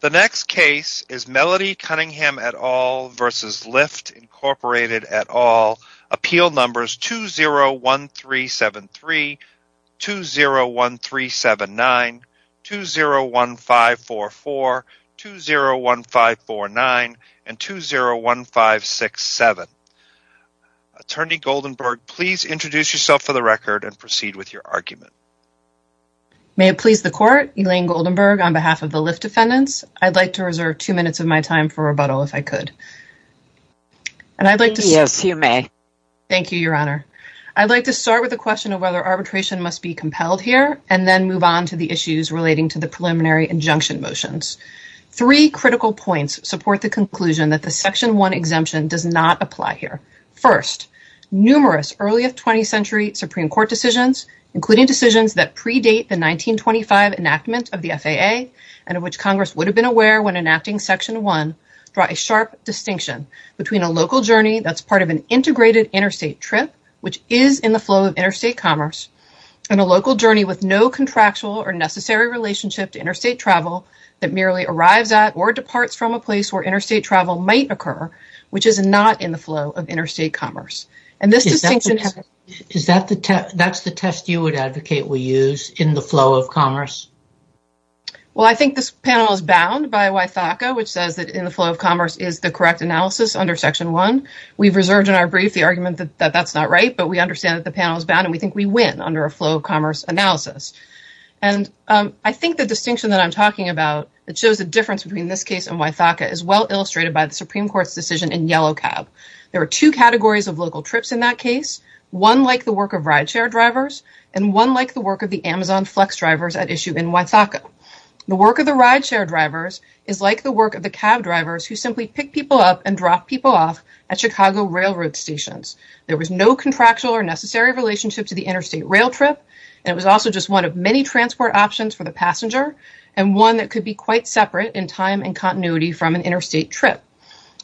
The next case is Melody Cunningham et al. v. Lyft, Inc. et al. Appeal numbers 201373, 201379, 201544, 201549, and 201567. Attorney Goldenberg, please introduce yourself for the record and proceed with your argument. May it please the Court, Elaine Goldenberg on behalf of the Lyft defendants. I'd like to reserve two minutes of my time for rebuttal if I could. And I'd like to... Yes, you may. Thank you, Your Honor. I'd like to start with the question of whether arbitration must be compelled here and then move on to the issues relating to the preliminary injunction motions. Three critical points support the conclusion that the Section 1 exemption does not apply here. First, numerous early 20th century Supreme Court decisions, including decisions that predate the 1925 enactment of the FAA and of which Congress would have been aware when enacting Section 1, draw a sharp distinction between a local journey that's part of an integrated interstate trip, which is in the flow of interstate commerce, and a local journey with no contractual or necessary relationship to interstate travel that merely arrives at or departs from a place where interstate travel might occur, which is not in the flow of interstate commerce. And this distinction... That's the test you would advocate we use in the flow of commerce? Well, I think this panel is bound by Wythaka, which says that in the flow of commerce is the correct analysis under Section 1. We've reserved in our brief the argument that that's not right, but we understand that the panel is bound, and we think we win under a flow of commerce analysis. And I think the distinction that I'm talking about that shows the difference between this case and Wythaka is well illustrated by the Supreme Court's decision in Yellow Cab. There were two categories of local trips in that case. One like the work of rideshare drivers, and one like the work of the Amazon Flex drivers at issue in Wythaka. The work of the rideshare drivers is like the work of the cab drivers who simply pick people up and drop people off at Chicago railroad stations. There was no contractual or necessary relationship to the interstate rail trip, and it was also just one of many transport options for the passenger, and one that could be quite separate in time and continuity from an interstate trip.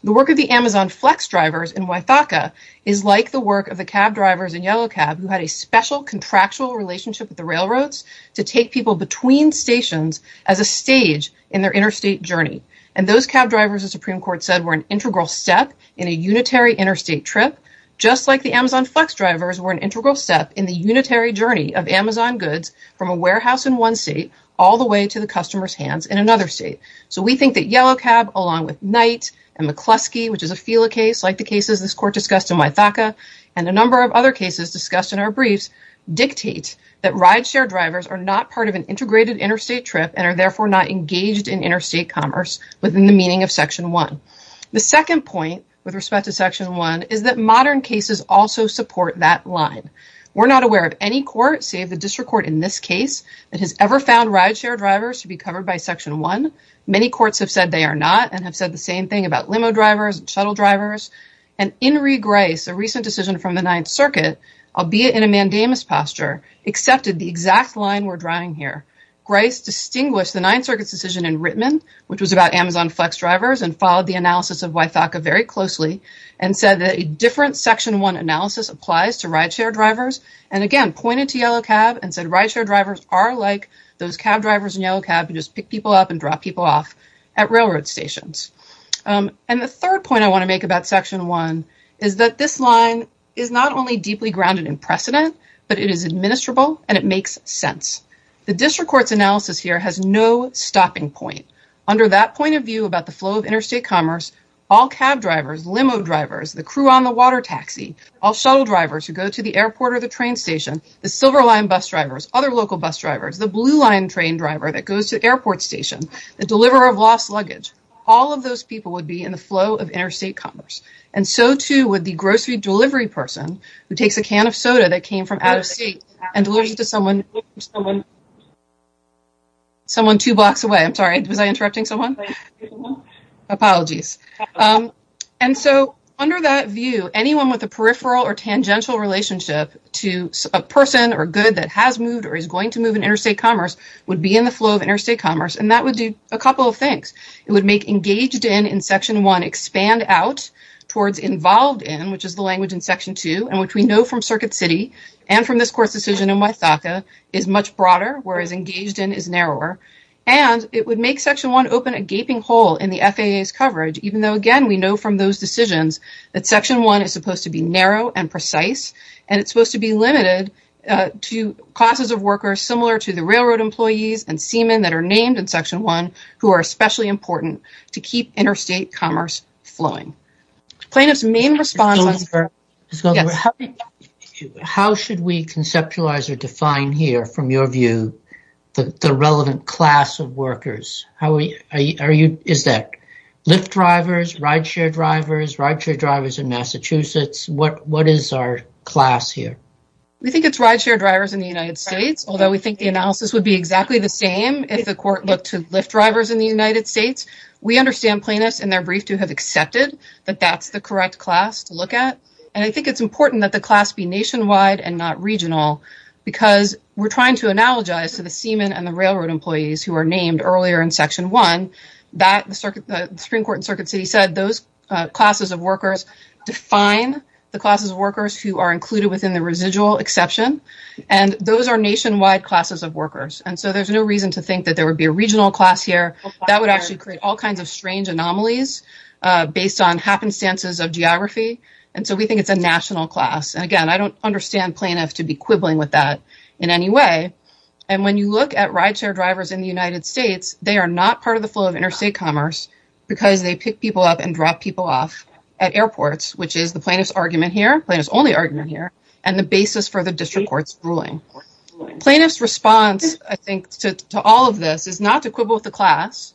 The work of the Amazon Flex drivers in Wythaka is like the work of the cab drivers in Yellow Cab who had a special contractual relationship with the railroads to take people between stations as a stage in their interstate journey. And those cab drivers, the Supreme Court said, were an integral step in a unitary interstate trip, just like the Amazon Flex drivers were an integral step in the unitary journey of Amazon goods from a warehouse in one state all the way to the customer's hands in another state. So we think that Yellow Cab, along with Knight and McCluskey, which is a FELA case like the cases this Court discussed in Wythaka and a number of other cases discussed in our briefs, dictate that rideshare drivers are not part of an integrated interstate trip and are therefore not engaged in interstate commerce within the meaning of Section 1. The second point with respect to Section 1 is that modern cases also support that line. We're not aware of any court, save the district court in this case, that has ever found rideshare drivers to be covered by Section 1. Many courts have said they are not and have said the same thing about limo drivers and shuttle drivers. And Inri Greis, a recent decision from the Ninth Circuit, albeit in a mandamus posture, accepted the exact line we're drawing here. Greis distinguished the Ninth Circuit's decision in Rittman, which was about Amazon Flex drivers, and followed the analysis of Wythaka very closely and said that a different Section 1 analysis applies to rideshare drivers and again pointed to Yellow Cab and said rideshare drivers are like those cab drivers in Yellow Cab and just pick people up and drop people off at railroad stations. And the third point I want to make about Section 1 is that this line is not only deeply grounded in precedent, but it is administrable and it makes sense. The district court's analysis here has no stopping point. Under that point of view about the flow of interstate commerce, all cab drivers, limo drivers, the crew on the water taxi, all shuttle drivers who go to the airport or the train station, the Silver Line bus drivers, other local bus drivers, the Blue Line train driver that goes to the airport station, the deliverer of lost luggage, all of those people would be in the flow of interstate commerce. And so too would the grocery delivery person who takes a can of soda that came from out of state and delivers it to someone two blocks away. I'm sorry, was I interrupting someone? Apologies. And so under that view, anyone with a peripheral or tangential relationship to a person or good that has moved or is going to move in interstate commerce would be in the flow of interstate commerce. And that would do a couple of things. It would make engaged in in Section 1 expand out towards involved in, which is the language in Section 2 and which we know from Circuit City and from this court's decision in Wythaka is much broader, whereas engaged in is narrower. And it would make Section 1 open a gaping hole in the FAA's coverage, even though, again, we know from those decisions that Section 1 is supposed to be narrow and precise and it's supposed to be limited to classes of workers similar to the railroad employees and seamen that are named in Section 1 who are especially important to keep interstate commerce flowing. Plaintiff's main response- How should we conceptualize or define here, from your view, the relevant class of workers? Is that Lyft drivers, rideshare drivers, rideshare drivers in Massachusetts? What is our class here? We think it's rideshare drivers in the United States, although we think the analysis would be exactly the same if the court looked to Lyft drivers in the United States. We understand plaintiffs in their brief to have accepted that that's the correct class to look at. And I think it's important that the class be nationwide and not regional because we're trying to analogize to the seamen and the railroad employees who are named earlier in Section 1 that the Supreme Court in Circuit City said those classes of workers define the classes of workers who are included within the residual exception. And those are nationwide classes of workers. And so there's no reason to think that there would be a regional class here. That would actually create all kinds of strange anomalies based on happenstances of geography. And so we think it's a national class. And again, I don't understand plaintiffs to be quibbling with that in any way. And when you look at rideshare drivers in the United States, they are not part of the flow of interstate commerce because they pick people up and drop people off at airports, which is the plaintiff's argument here, plaintiff's only argument here, and the basis for the district court's ruling. Plaintiff's response, I think, to all of this is not to quibble with the class,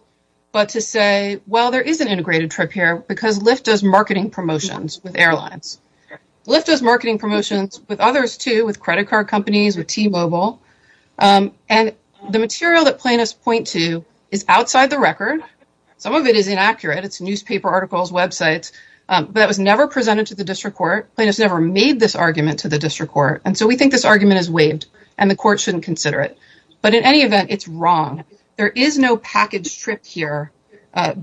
but to say, well, there is an integrated trip here because Lyft does marketing promotions with airlines. Lyft does marketing promotions with others too, with credit card companies, with T-Mobile. And the material that plaintiffs point to is outside the record. Some of it is inaccurate. It's newspaper articles, websites, but that was never presented to the district court. Plaintiffs never made this argument to the district court. And so we think this argument is waived and the court shouldn't consider it. But in any event, it's wrong. There is no package trip here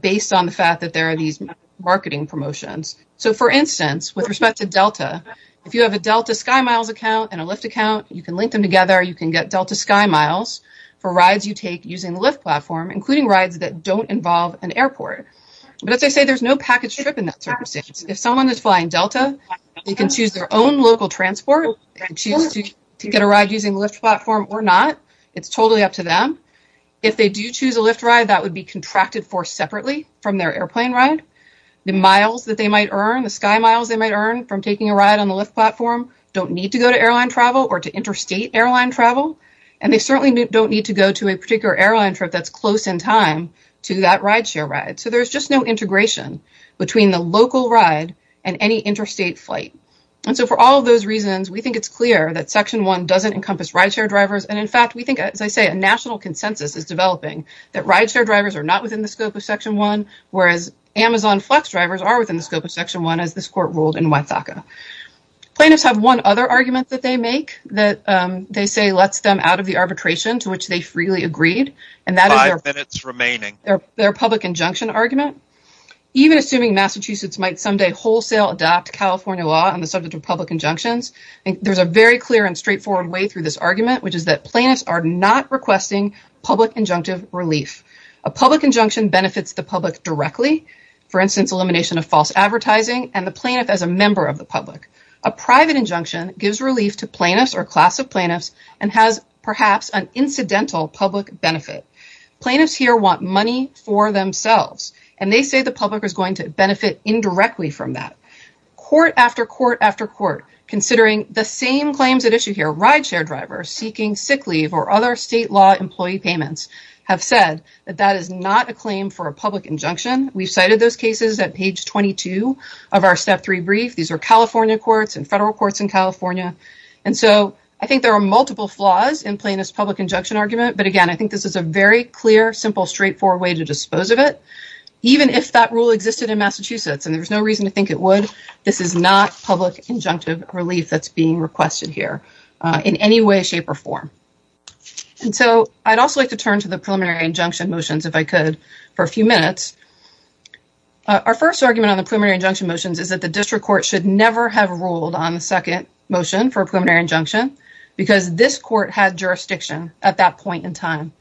based on the fact that there are these marketing promotions. So for instance, with respect to Delta, if you have a Delta SkyMiles account and a Lyft account, you can link them together. You can get Delta SkyMiles for rides you take using Lyft platform, including rides that don't involve an airport. But as I say, there's no package trip in that circumstance. If someone is flying Delta, they can choose their own local transport. They can choose to get a ride using Lyft platform or not. It's totally up to them. If they do choose a Lyft ride, that would be contracted for separately from their airplane ride. The miles that they might earn, the SkyMiles they might earn from taking a ride on the Lyft platform don't need to go to airline travel or to interstate airline travel. And they certainly don't need to go to a particular airline trip that's close in time to that rideshare ride. So there's just no integration between the local ride and any interstate flight. And so for all of those reasons, we think it's clear that Section 1 doesn't encompass rideshare drivers. And in fact, we think, as I say, a national consensus is developing that rideshare drivers are not within the scope of Section 1, whereas Amazon Flex drivers are within the scope of Section 1 as this court ruled in Wethaca. Plaintiffs have one other argument that they make that they say lets them out of the arbitration to which they freely agreed. And that is their public injunction argument. Even assuming Massachusetts might someday wholesale adopt California law on the subject of public injunctions, there's a very clear and straightforward way through this argument, which is that plaintiffs are not requesting public injunctive relief. A public injunction benefits the public directly, for instance, elimination of false advertising and the plaintiff as a member of the public. A private injunction gives relief to plaintiffs or class of plaintiffs and has perhaps an incidental public benefit. Plaintiffs here want money for themselves. And they say the public is going to benefit indirectly from that. Court after court after court, considering the same claims at issue here, rideshare drivers seeking sick leave or other state law employee payments have said that that is not a claim for a public injunction. We've cited those cases at page 22 of our Step 3 brief. These are California courts and federal courts in California. And so I think there are multiple flaws in plaintiff's public injunction argument. But again, I think this is a very clear, simple, straightforward way to dispose of it. Even if that rule existed in Massachusetts and there was no reason to think it would, this is not public injunctive relief that's being requested here in any way, shape or form. And so I'd also like to turn to the preliminary injunction motions if I could for a few minutes. Our first argument on the preliminary injunction motions is that the district court should never have ruled on the second motion for a preliminary injunction because this court had jurisdiction at that point in time.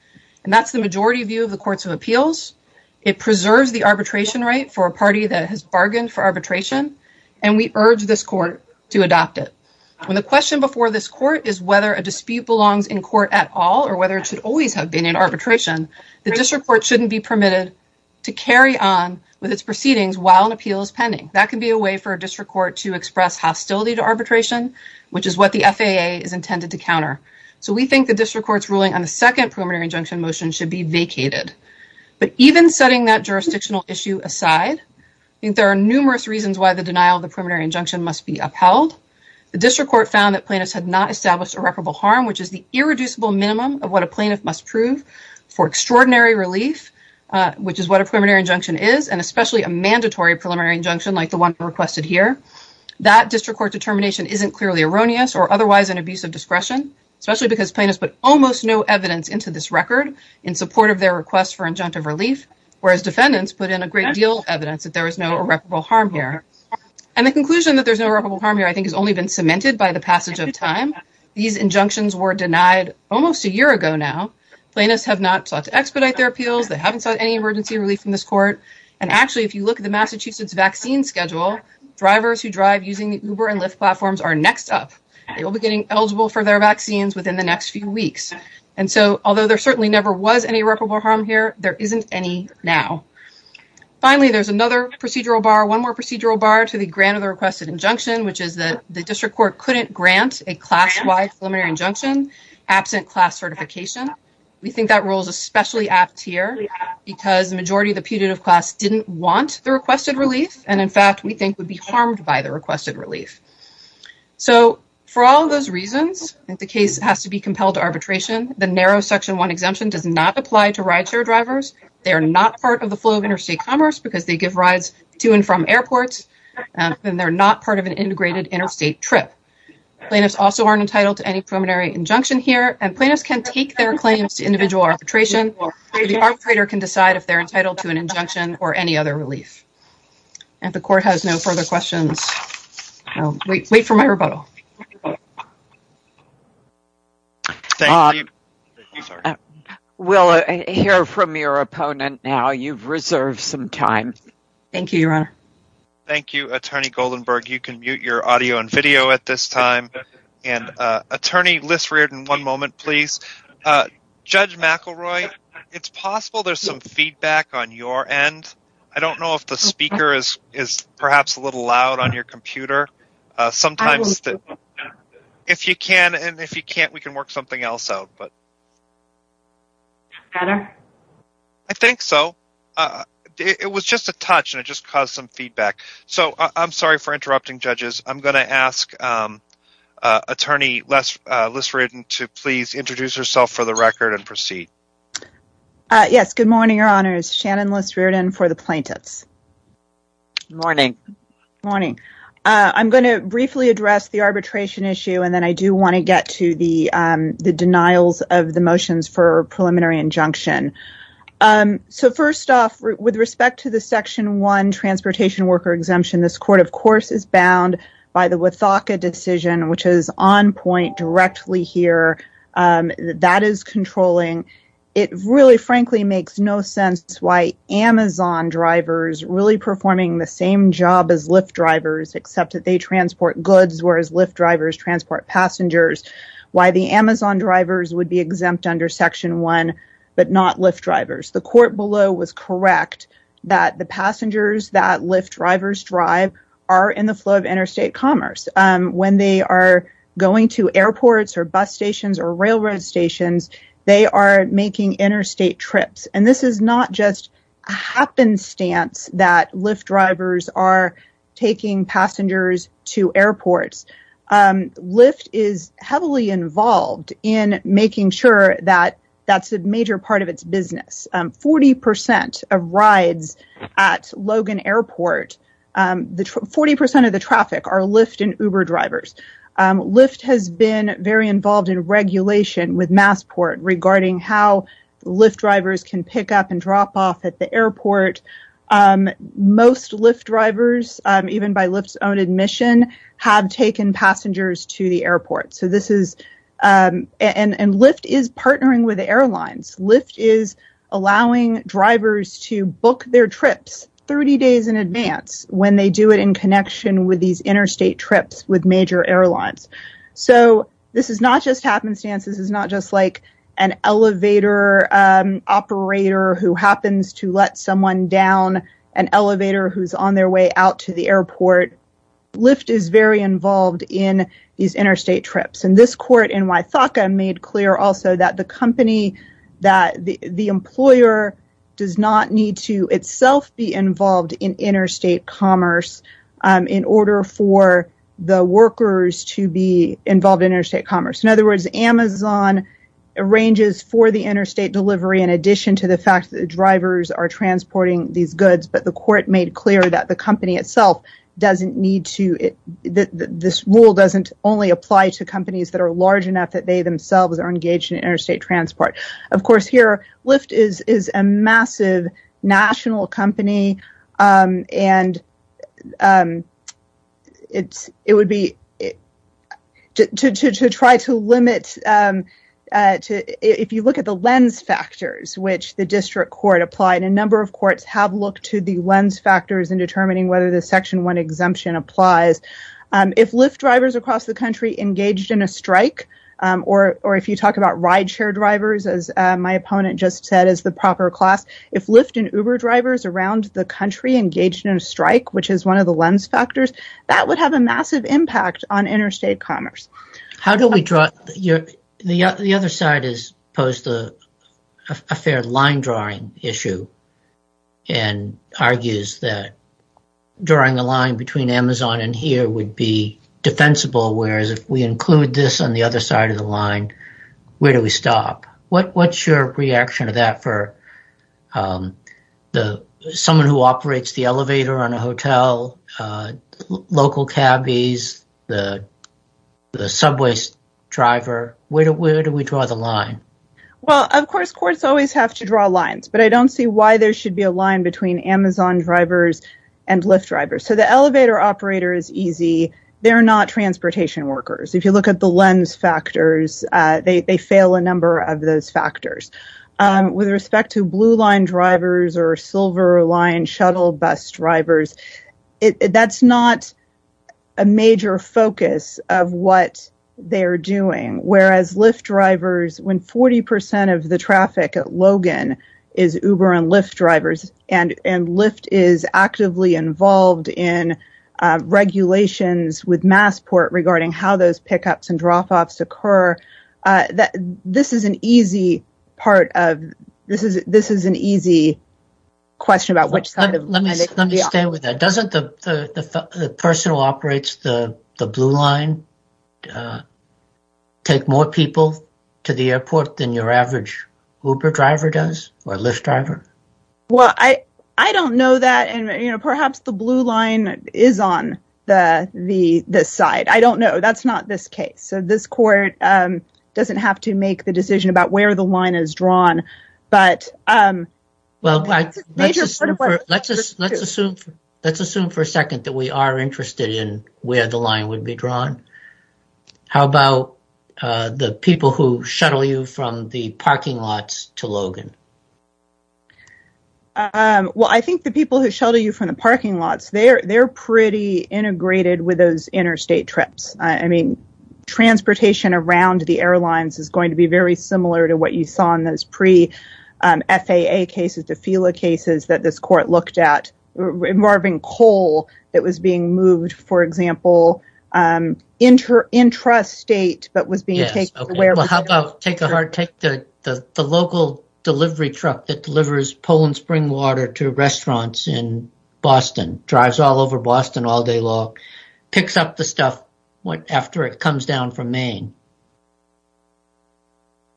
And that's the majority view of the courts of appeals. It preserves the arbitration right for a party that has bargained for arbitration. And we urge this court to adopt it. When the question before this court is whether a dispute belongs in court at all or whether it should always have been in arbitration, the district court shouldn't be permitted to carry on with its proceedings while an appeal is pending. That can be a way for a district court to express hostility to arbitration, which is what the FAA is intended to counter. So we think the district court's ruling on the second preliminary injunction motion should be vacated. But even setting that jurisdictional issue aside, I think there are numerous reasons why the denial of the preliminary injunction must be upheld. The district court found that plaintiffs had not established irreparable harm, which is the irreducible minimum of what a plaintiff must prove for extraordinary relief, which is what a preliminary injunction is, and especially a mandatory preliminary injunction like the one requested here. That district court determination isn't clearly erroneous or otherwise an abuse of discretion, especially because plaintiffs put almost no evidence into this record in support of their request for injunctive relief, whereas defendants put in a great deal of evidence that there was no irreparable harm here. And the conclusion that there's no irreparable harm here, I think, has only been cemented by the passage of time. These injunctions were denied almost a year ago now. Plaintiffs have not sought to expedite their appeals. They haven't sought any emergency relief from this court. And actually, if you look at the Massachusetts vaccine schedule, drivers who drive using the Uber and Lyft platforms are next up. They will be getting eligible for their vaccines within the next few weeks. And so although there certainly never was any irreparable harm here, there isn't any now. Finally, there's another procedural bar, one more procedural bar to the grant of the requested injunction, which is that the district court couldn't grant a class-wide preliminary injunction absent class certification. We think that rule is especially apt here because the majority of the putative class didn't want the requested relief. And in fact, we think would be harmed by the requested relief. So for all of those reasons, if the case has to be compelled to arbitration, the narrow section one exemption does not apply to rideshare drivers. They are not part of the flow of interstate commerce because they give rides to and from airports. And they're not part of an integrated interstate trip. Plaintiffs also aren't entitled to any preliminary injunction here. And plaintiffs can take their claims to individual arbitration. The arbitrator can decide if they're entitled to an injunction or any other relief. The court has no further questions. Wait for my rebuttal. We'll hear from your opponent now. You've reserved some time. Thank you, Your Honor. Thank you, Attorney Goldenberg. You can mute your audio and video at this time. And attorney Lissreardon, one moment, please. Judge McElroy, it's possible there's some feedback on your end. I don't know if the speaker is perhaps a little loud on your computer. Sometimes if you can and if you can't, we can work something else out. But I think so. It was just a touch and it just caused some feedback. So I'm sorry for interrupting, judges. I'm going to ask attorney Lissreardon Yes, good morning, Your Honors. Shannon Lissreardon for the plaintiffs. Good morning. Good morning. I'm going to briefly address the arbitration issue. And then I do want to get to the denials of the motions for preliminary injunction. So first off, with respect to the Section 1 Transportation Worker Exemption, this court, of course, is bound by the Wathauka decision, which is on point directly here. That is controlling. It really, frankly, makes no sense why Amazon drivers really performing the same job as Lyft drivers, except that they transport goods, whereas Lyft drivers transport passengers. Why the Amazon drivers would be exempt under Section 1, but not Lyft drivers. The court below was correct that the passengers that Lyft drivers drive are in the flow of interstate commerce. When they are going to airports or bus stations or railroad stations, they are making interstate trips. And this is not just a happenstance that Lyft drivers are taking passengers to airports. Lyft is heavily involved in making sure that that's a major part of its business. 40% of rides at Logan Airport, 40% of the traffic are Lyft and Uber drivers. Lyft has been very involved in regulation with Massport regarding how Lyft drivers can pick up and drop off at the airport. Most Lyft drivers, even by Lyft's own admission, have taken passengers to the airport. And Lyft is partnering with airlines. Lyft is allowing drivers to book their trips 30 days in advance when they do it in connection with these interstate trips with major airlines. So this is not just happenstance. This is not just like an elevator operator who happens to let someone down an elevator who's on their way out to the airport. Lyft is very involved in these interstate trips. And this court in Wythaka made clear also that the company, that the employer, does not need to itself be involved in interstate commerce in order for the workers to be involved in interstate commerce. In other words, Amazon arranges for the interstate delivery in addition to the fact that the drivers are transporting these goods, but the court made clear that the company itself doesn't need to, this rule doesn't only apply to companies that are large enough that they themselves are engaged in interstate transport. Of course here, Lyft is a massive national company and it would be to try to limit, if you look at the lens factors, which the district court applied, a number of courts have looked to the lens factors in determining whether the section one exemption applies. If Lyft drivers across the country engaged in a strike, or if you talk about rideshare drivers, as my opponent just said, as the proper class, if Lyft and Uber drivers around the country engaged in a strike, which is one of the lens factors, that would have a massive impact on interstate commerce. The other side has posed a fair line drawing issue and argues that drawing a line between Amazon and here would be defensible, whereas if we include this on the other side of the line, where do we stop? What's your reaction to that for someone who operates the elevator on a hotel, local cabbies, the subway driver, where do we draw the line? Well, of course, courts always have to draw lines, but I don't see why there should be a line between Amazon drivers and Lyft drivers. So the elevator operator is easy. They're not transportation workers. If you look at the lens factors, they fail a number of those factors. With respect to blue line drivers or silver line shuttle bus drivers, that's not a major focus of what they're doing, whereas Lyft drivers, when 40% of the traffic at Logan is Uber and Lyft drivers and Lyft is actively involved in regulations with Massport regarding how those pickups and drop-offs occur, this is an easy part of... This is an easy question about which side of... Let me stay with that. Doesn't the person who operates the blue line take more people to the airport than your average Uber driver does or Lyft driver? Well, I don't know that, and perhaps the blue line is on the side. I don't know. That's not this case. So this court doesn't have to make the decision about where the line is drawn, but... Well, let's assume for a second that we are interested in where the line would be drawn. How about the people who shuttle you from the parking lots to Logan? Well, I think the people who shuttle you from the parking lots, they're pretty integrated with those interstate trips. I mean, transportation around the airlines is going to be very similar to what you saw in those pre-FAA cases, the FILA cases that this court looked at involving coal that was being moved, for example, intrastate that was being taken to where... Well, how about take the local delivery truck that delivers Poland spring water to restaurants in Boston, drives all over Boston all day long, picks up the stuff after it comes down from Maine?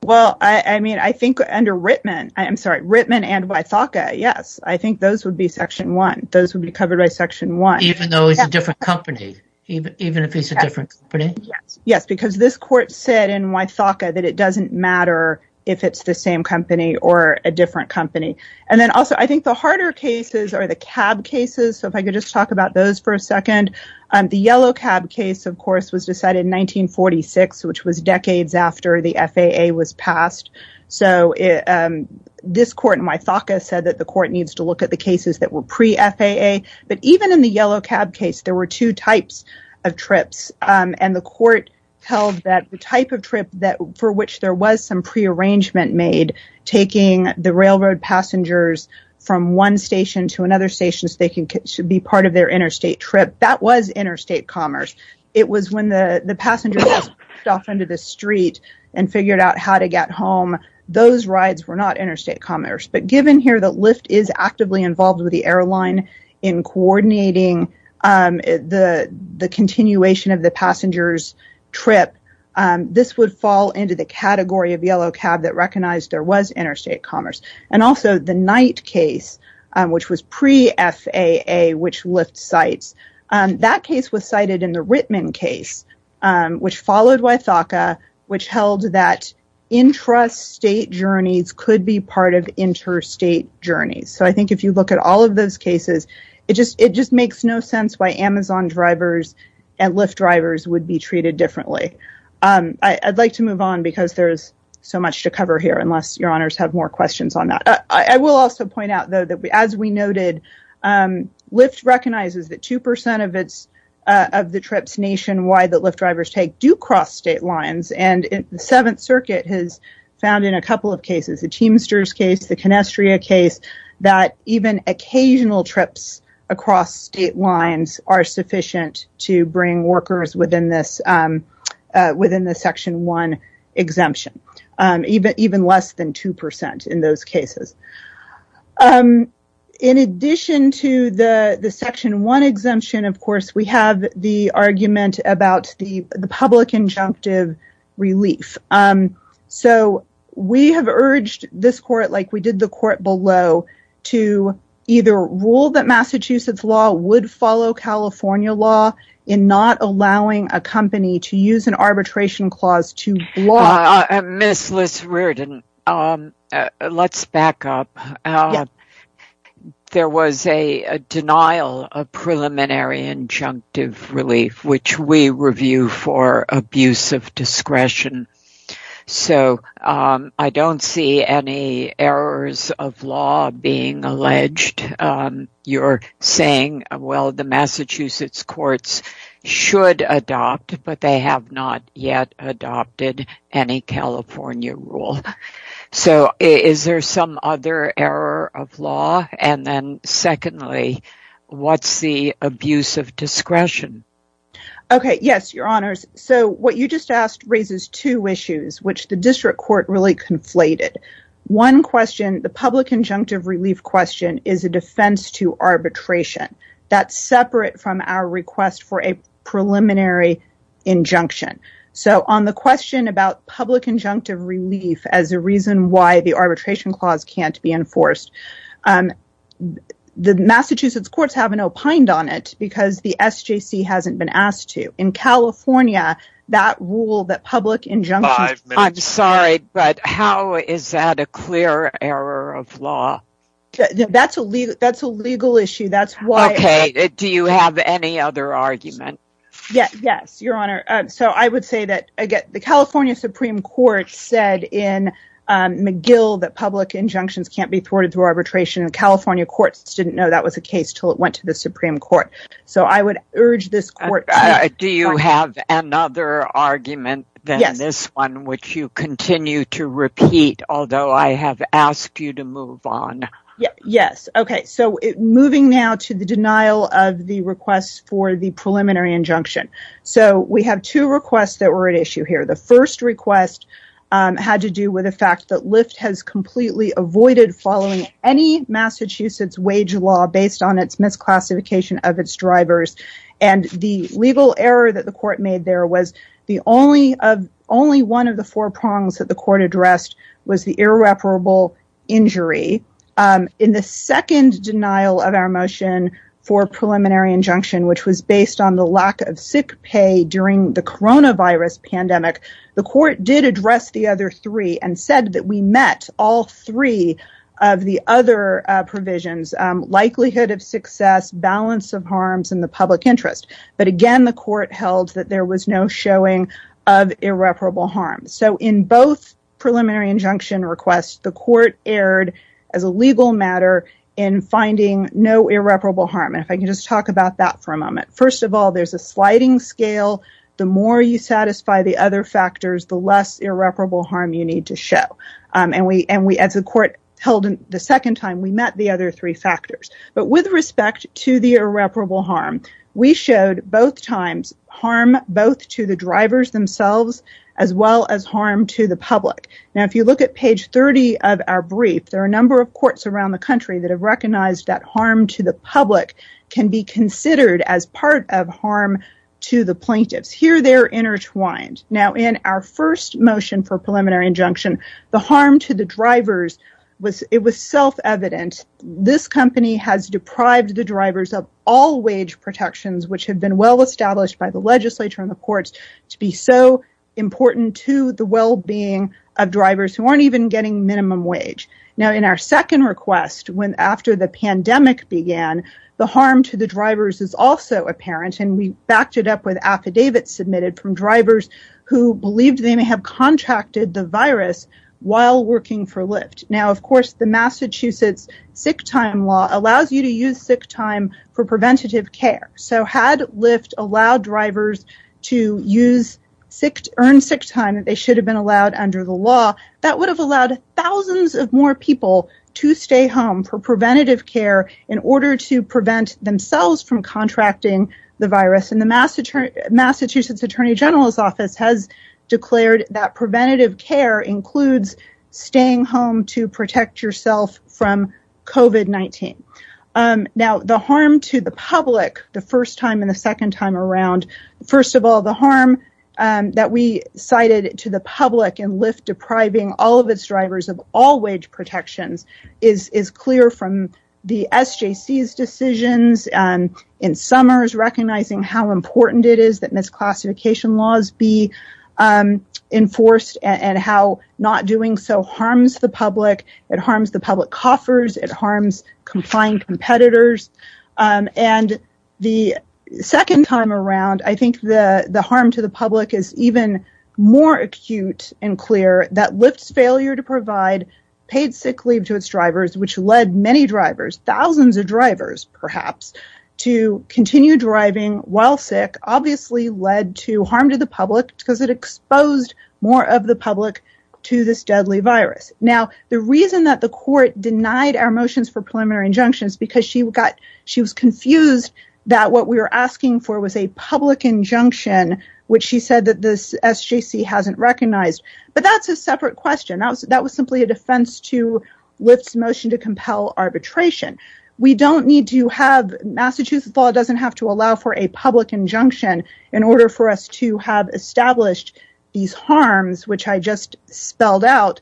Well, I mean, I think under Rittman, I'm sorry, Rittman and Wythaka, yes. I think those would be section one. Those would be covered by section one. Even though it's a different company, even if it's a different company? Yes, because this court said in Wythaka that it doesn't matter if it's the same company or a different company. And then also I think the harder cases are the cab cases. So if I could just talk about those for a second. The yellow cab case, of course, was decided in 1946, which was decades after the FAA was passed. So this court in Wythaka said that the court needs to look at the cases that were pre-FAA. But even in the yellow cab case, there were two types of trips. And the court held that the type of trip for which there was some prearrangement made, taking the railroad passengers from one station to another station so they could be part of their interstate trip, that was interstate commerce. It was when the passenger was off into the street and figured out how to get home. Those rides were not interstate commerce. But given here that Lyft is actively involved with the airline in coordinating the continuation of the passenger's trip, this would fall into the category of yellow cab that recognized there was interstate commerce. And also the Knight case, which was pre-FAA, which Lyft cites. That case was cited in the Rittman case, which followed Wythaka, which held that intrastate journeys could be part of interstate journeys. So I think if you look at all of those cases, it just makes no sense why Amazon drivers and Lyft drivers would be treated differently. I'd like to move on because there's so much to cover here, unless your honors have more questions on that. I will also point out, though, that as we noted, Lyft recognizes that 2% of the trips nationwide that Lyft drivers take do cross state lines. And the Seventh Circuit has found in a couple of cases, the Teamsters case, the Conestria case, that even occasional trips across state lines are sufficient to bring workers within the Section 1 exemption, even less than 2% in those cases. In addition to the Section 1 exemption, of course, we have the argument about the public injunctive relief. So we have urged this court, like we did the court below, to either rule that Massachusetts law would follow California law in not allowing a company to use an arbitration clause to block... Ms. Liss-Riordan, let's back up. There was a denial of preliminary injunctive relief, which we review for abuse of discretion. So I don't see any errors of law being alleged. You're saying, well, the Massachusetts courts should adopt, but they have not yet adopted any California rule. So is there some other error of law? And then secondly, what's the abuse of discretion? Okay, yes, Your Honors. So what you just asked raises two issues, which the district court really conflated. One question, the public injunctive relief question is a defense to arbitration. That's separate from our request for a preliminary injunction. So on the question about public injunctive relief as a reason why the arbitration clause can't be enforced, the Massachusetts courts have an opined on it because the SJC hasn't been asked to. In California, that rule, that public injunction... Five minutes. I'm sorry, but how is that a clear error of law? That's a legal issue. Okay, do you have any other argument? Yes, Your Honor. So I would say that, again, the California Supreme Court said in McGill that public injunctions can't be thwarted through arbitration. The California courts didn't know that was the case until it went to the Supreme Court. So I would urge this court to... Do you have another argument than this one, which you continue to repeat, although I have asked you to move on? Yes. Okay, so moving now to the denial of the request for the preliminary injunction. So we have two requests that were at issue here. The first request had to do with the fact that Lyft has completely avoided following any Massachusetts wage law based on its misclassification of its drivers. And the legal error that the court made there was only one of the four prongs that the court addressed was the irreparable injury. In the second denial of our motion for preliminary injunction, which was based on the lack of sick pay during the coronavirus pandemic, the court did address the other three and said that we met all three of the other provisions, likelihood of success, balance of harms in the public interest. But again, the court held that there was no showing of irreparable harm. So in both preliminary injunction requests, the court erred as a legal matter in finding no irreparable harm. And if I can just talk about that for a moment. First of all, there's a sliding scale. The more you satisfy the other factors, the less irreparable harm you need to show. And as the court held the second time, we met the other three factors. But with respect to the irreparable harm, we showed both times harm both to the drivers themselves as well as harm to the public. Now, if you look at page 30 of our brief, there are a number of courts around the country that have recognized that harm to the public can be considered as part of harm to the plaintiffs. Here, they're intertwined. Now, in our first motion for preliminary injunction, the harm to the drivers, it was self-evident. This company has deprived the drivers of all wage protections, which had been well-established by the legislature and the courts to be so important to the well-being of drivers who aren't even getting minimum wage. Now, in our second request, after the pandemic began, the harm to the drivers is also apparent. And we backed it up with affidavits submitted from drivers who believed they may have contracted the virus while working for Lyft. Now, of course, the Massachusetts sick time law allows you to use sick time for preventative care. So had Lyft allowed drivers to earn sick time that they should have been allowed under the law, that would have allowed thousands of more people to stay home for preventative care in order to prevent themselves from contracting the virus. And the Massachusetts Attorney General's office has declared that preventative care includes staying home to protect yourself from COVID-19. Now, the harm to the public, the first time and the second time around, first of all, the harm that we cited to the public and Lyft depriving all of its drivers of all wage protections is clear from the SJC's decisions in summers, recognizing how important it is that misclassification laws be enforced and how not doing so harms the public. It harms the public coffers. It harms complying competitors. And the second time around, I think the harm to the public is even more acute and clear that Lyft's failure to provide paid sick leave to its drivers, which led many drivers, thousands of drivers, perhaps, to continue driving while sick, obviously led to harm to the public because it exposed more of the public to this deadly virus. Now, the reason that the court denied our motions for preliminary injunctions because she was confused that what we were asking for was a public injunction, which she said that the SJC hasn't recognized, but that's a separate question. That was simply a defense to Lyft's motion to compel arbitration. We don't need to have, Massachusetts law doesn't have to allow for a public injunction in order for us to have established these harms, which I just spelled out.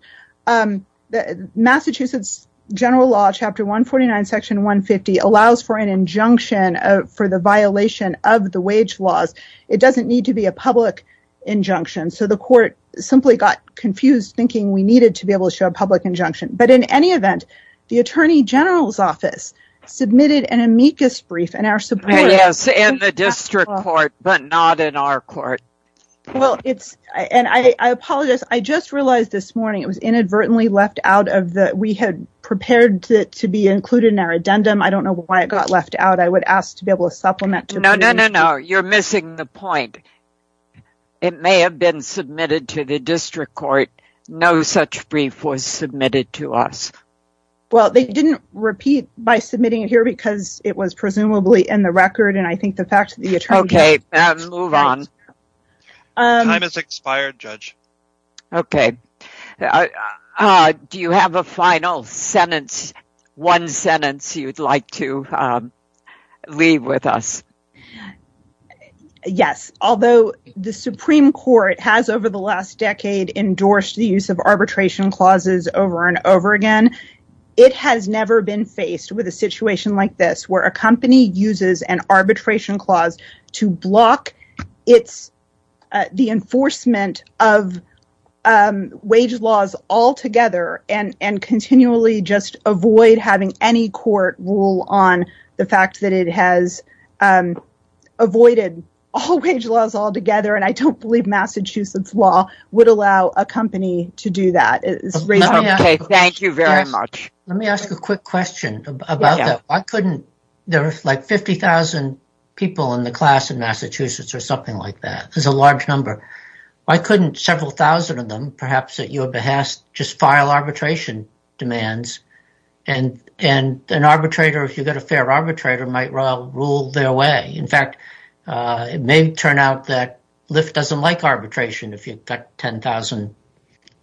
Massachusetts general law, chapter 149, section 150, allows for an injunction for the violation of the wage laws. It doesn't need to be a public injunction. So the court simply got confused thinking we needed to be able to show a public injunction. But in any event, the attorney general's office submitted an amicus brief and our support- Yes, in the district court, but not in our court. Well, it's- and I apologize. I just realized this morning, it was inadvertently left out of the- we had prepared it to be included in our addendum. I don't know why it got left out. I would ask to be able to supplement- No, no, no, no. You're missing the point. It may have been submitted to the district court. No such brief was submitted to us. Well, they didn't repeat by submitting it here because it was presumably in the record. And I think the fact that the attorney- Okay, move on. Time has expired, judge. Okay. Do you have a final sentence, one sentence you'd like to leave with us? Yes. Although the Supreme Court has over the last decade endorsed the use of arbitration clauses over and over again, it has never been faced with a situation like this where a company uses an arbitration clause to block the enforcement of wage laws altogether and continually just avoid having any court rule on the fact that it has avoided all wage laws altogether. And I don't believe Massachusetts law would allow a company to do that. Thank you very much. Let me ask a quick question about that. There's like 50,000 people in the class in Massachusetts or something like that. There's a large number. Why couldn't several thousand of them, perhaps at your behest, just file arbitration demands? And an arbitrator, if you've got a fair arbitrator, might well rule their way. In fact, it may turn out that Lyft doesn't like arbitration if you've got 10,000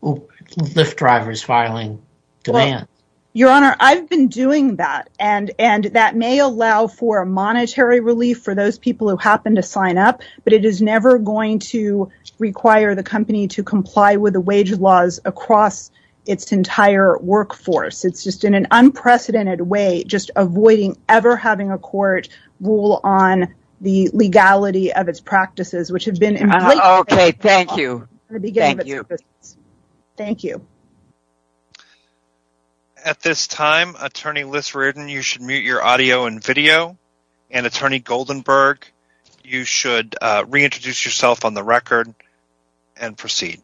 Lyft drivers filing demands. Your Honor, I've been doing that. And that may allow for a monetary relief for those people who happen to sign up, but it is never going to require the company to comply with the wage laws across its entire workforce. It's just in an unprecedented way, just avoiding ever having a court rule on the legality of its practices, which have been in place- Okay, thank you. Thank you. At this time, Attorney Lyfts Reardon, you should mute your audio and video. And Attorney Goldenberg, you should reintroduce yourself on the record and proceed.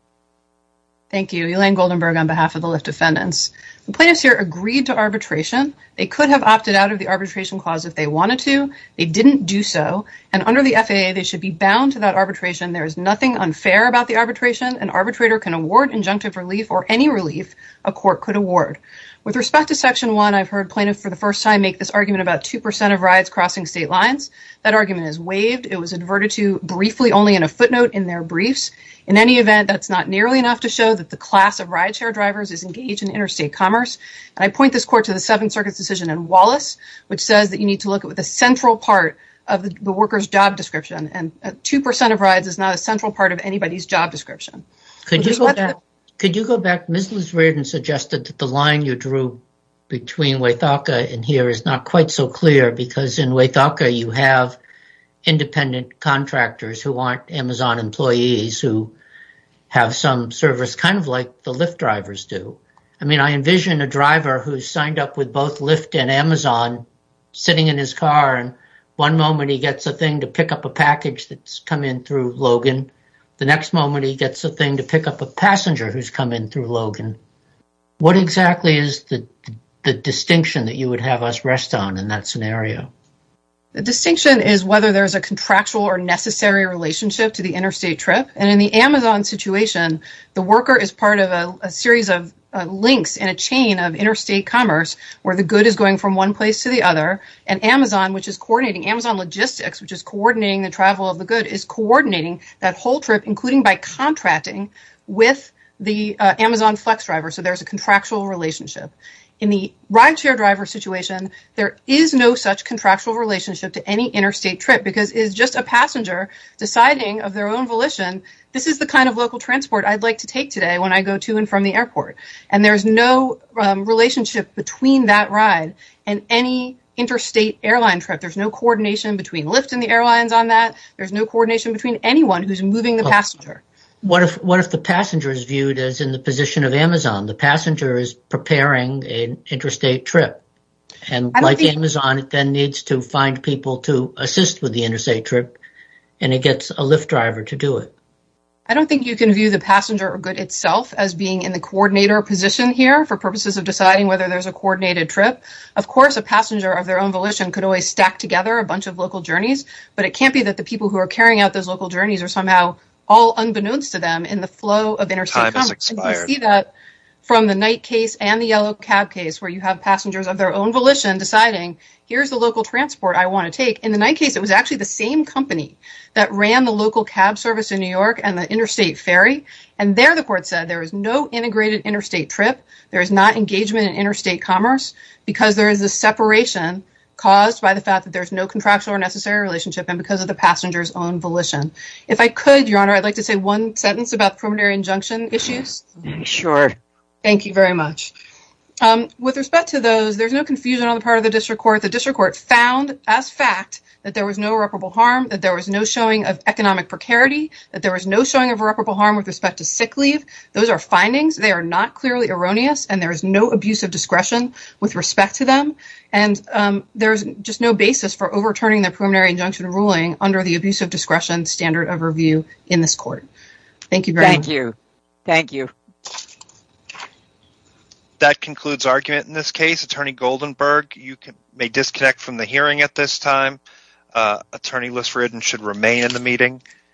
Thank you. Elaine Goldenberg on behalf of the Lyft defendants. The plaintiffs here agreed to arbitration. They could have opted out of the arbitration clause if they wanted to. They didn't do so. And under the FAA, they should be bound to that arbitration. There is nothing unfair about the arbitration. An arbitrator can award injunctive relief or any relief a court could award. With respect to section one, I've heard plaintiffs for the first time make this argument about 2% of rides crossing state lines. That argument is waived. It was adverted to briefly, only in a footnote in their briefs. In any event, that's not nearly enough to show that the class of rideshare drivers is engaged in interstate commerce. And I point this court to the Seventh Circuit's decision in Wallace, which says that you need to look at what the central part of the worker's job description. And 2% of rides is not a central part of anybody's job description. Could you go back? Ms. Liz Riordan suggested that the line you drew between Waythaka and here is not quite so clear because in Waythaka, you have independent contractors who aren't Amazon employees, who have some service kind of like the Lyft drivers do. I mean, I envision a driver who's signed up with both Lyft and Amazon sitting in his car. And one moment he gets a thing to pick up a package that's come in through Logan. The next moment he gets a thing to pick up a passenger who's come in through Logan. What exactly is the distinction that you would have us rest on in that scenario? The distinction is whether there's a contractual or necessary relationship to the interstate trip. And in the Amazon situation, the worker is part of a series of links in a chain of interstate commerce where the good is going from one place to the other. And Amazon, which is coordinating Amazon logistics, which is coordinating the travel of the good, is coordinating that whole trip, including by contracting with the Amazon Flex driver. So there's a contractual relationship. In the ride share driver situation, there is no such contractual relationship to any interstate trip because it's just a passenger deciding of their own volition, this is the kind of local transport I'd like to take today when I go to and from the airport. And there's no relationship between that ride and any interstate airline trip. There's no coordination between Lyft and the airlines on that. There's no coordination between anyone who's moving the passenger. What if the passenger is viewed as in the position of Amazon? The passenger is preparing an interstate trip. And like Amazon, it then needs to find people to assist with the interstate trip and it gets a Lyft driver to do it. I don't think you can view the passenger or good itself as being in the coordinator position here for purposes of deciding whether there's a coordinated trip. Of course, a passenger of their own volition could always stack together a bunch of local journeys, but it can't be that the people who are carrying out those local journeys are somehow all unbeknownst to them in the flow of interstate commerce. And you see that from the night case and the yellow cab case where you have passengers of their own volition deciding here's the local transport I want to take. In the night case, it was actually the same company that ran the local cab service in New York and the interstate ferry. And there, the court said, there is no integrated interstate trip. There is not engagement in interstate commerce because there is a separation caused by the fact that there's no contractual or necessary relationship and because of the passenger's own volition. If I could, Your Honor, I'd like to say one sentence about the preliminary injunction issues. Sure. Thank you very much. With respect to those, there's no confusion on the part of the district court. The district court found as fact that there was no irreparable harm, that there was no showing of economic precarity, that there was no showing of irreparable harm with respect to sick leave. Those are findings. They are not clearly erroneous, and there is no abuse of discretion with respect to them. There's just no basis for overturning the preliminary injunction ruling under the abuse of discretion standard of review in this court. Thank you very much. Thank you. Thank you. That concludes argument in this case. Attorney Goldenberg, you may disconnect from the hearing at this time. Attorney Lisseridden should remain in the meeting.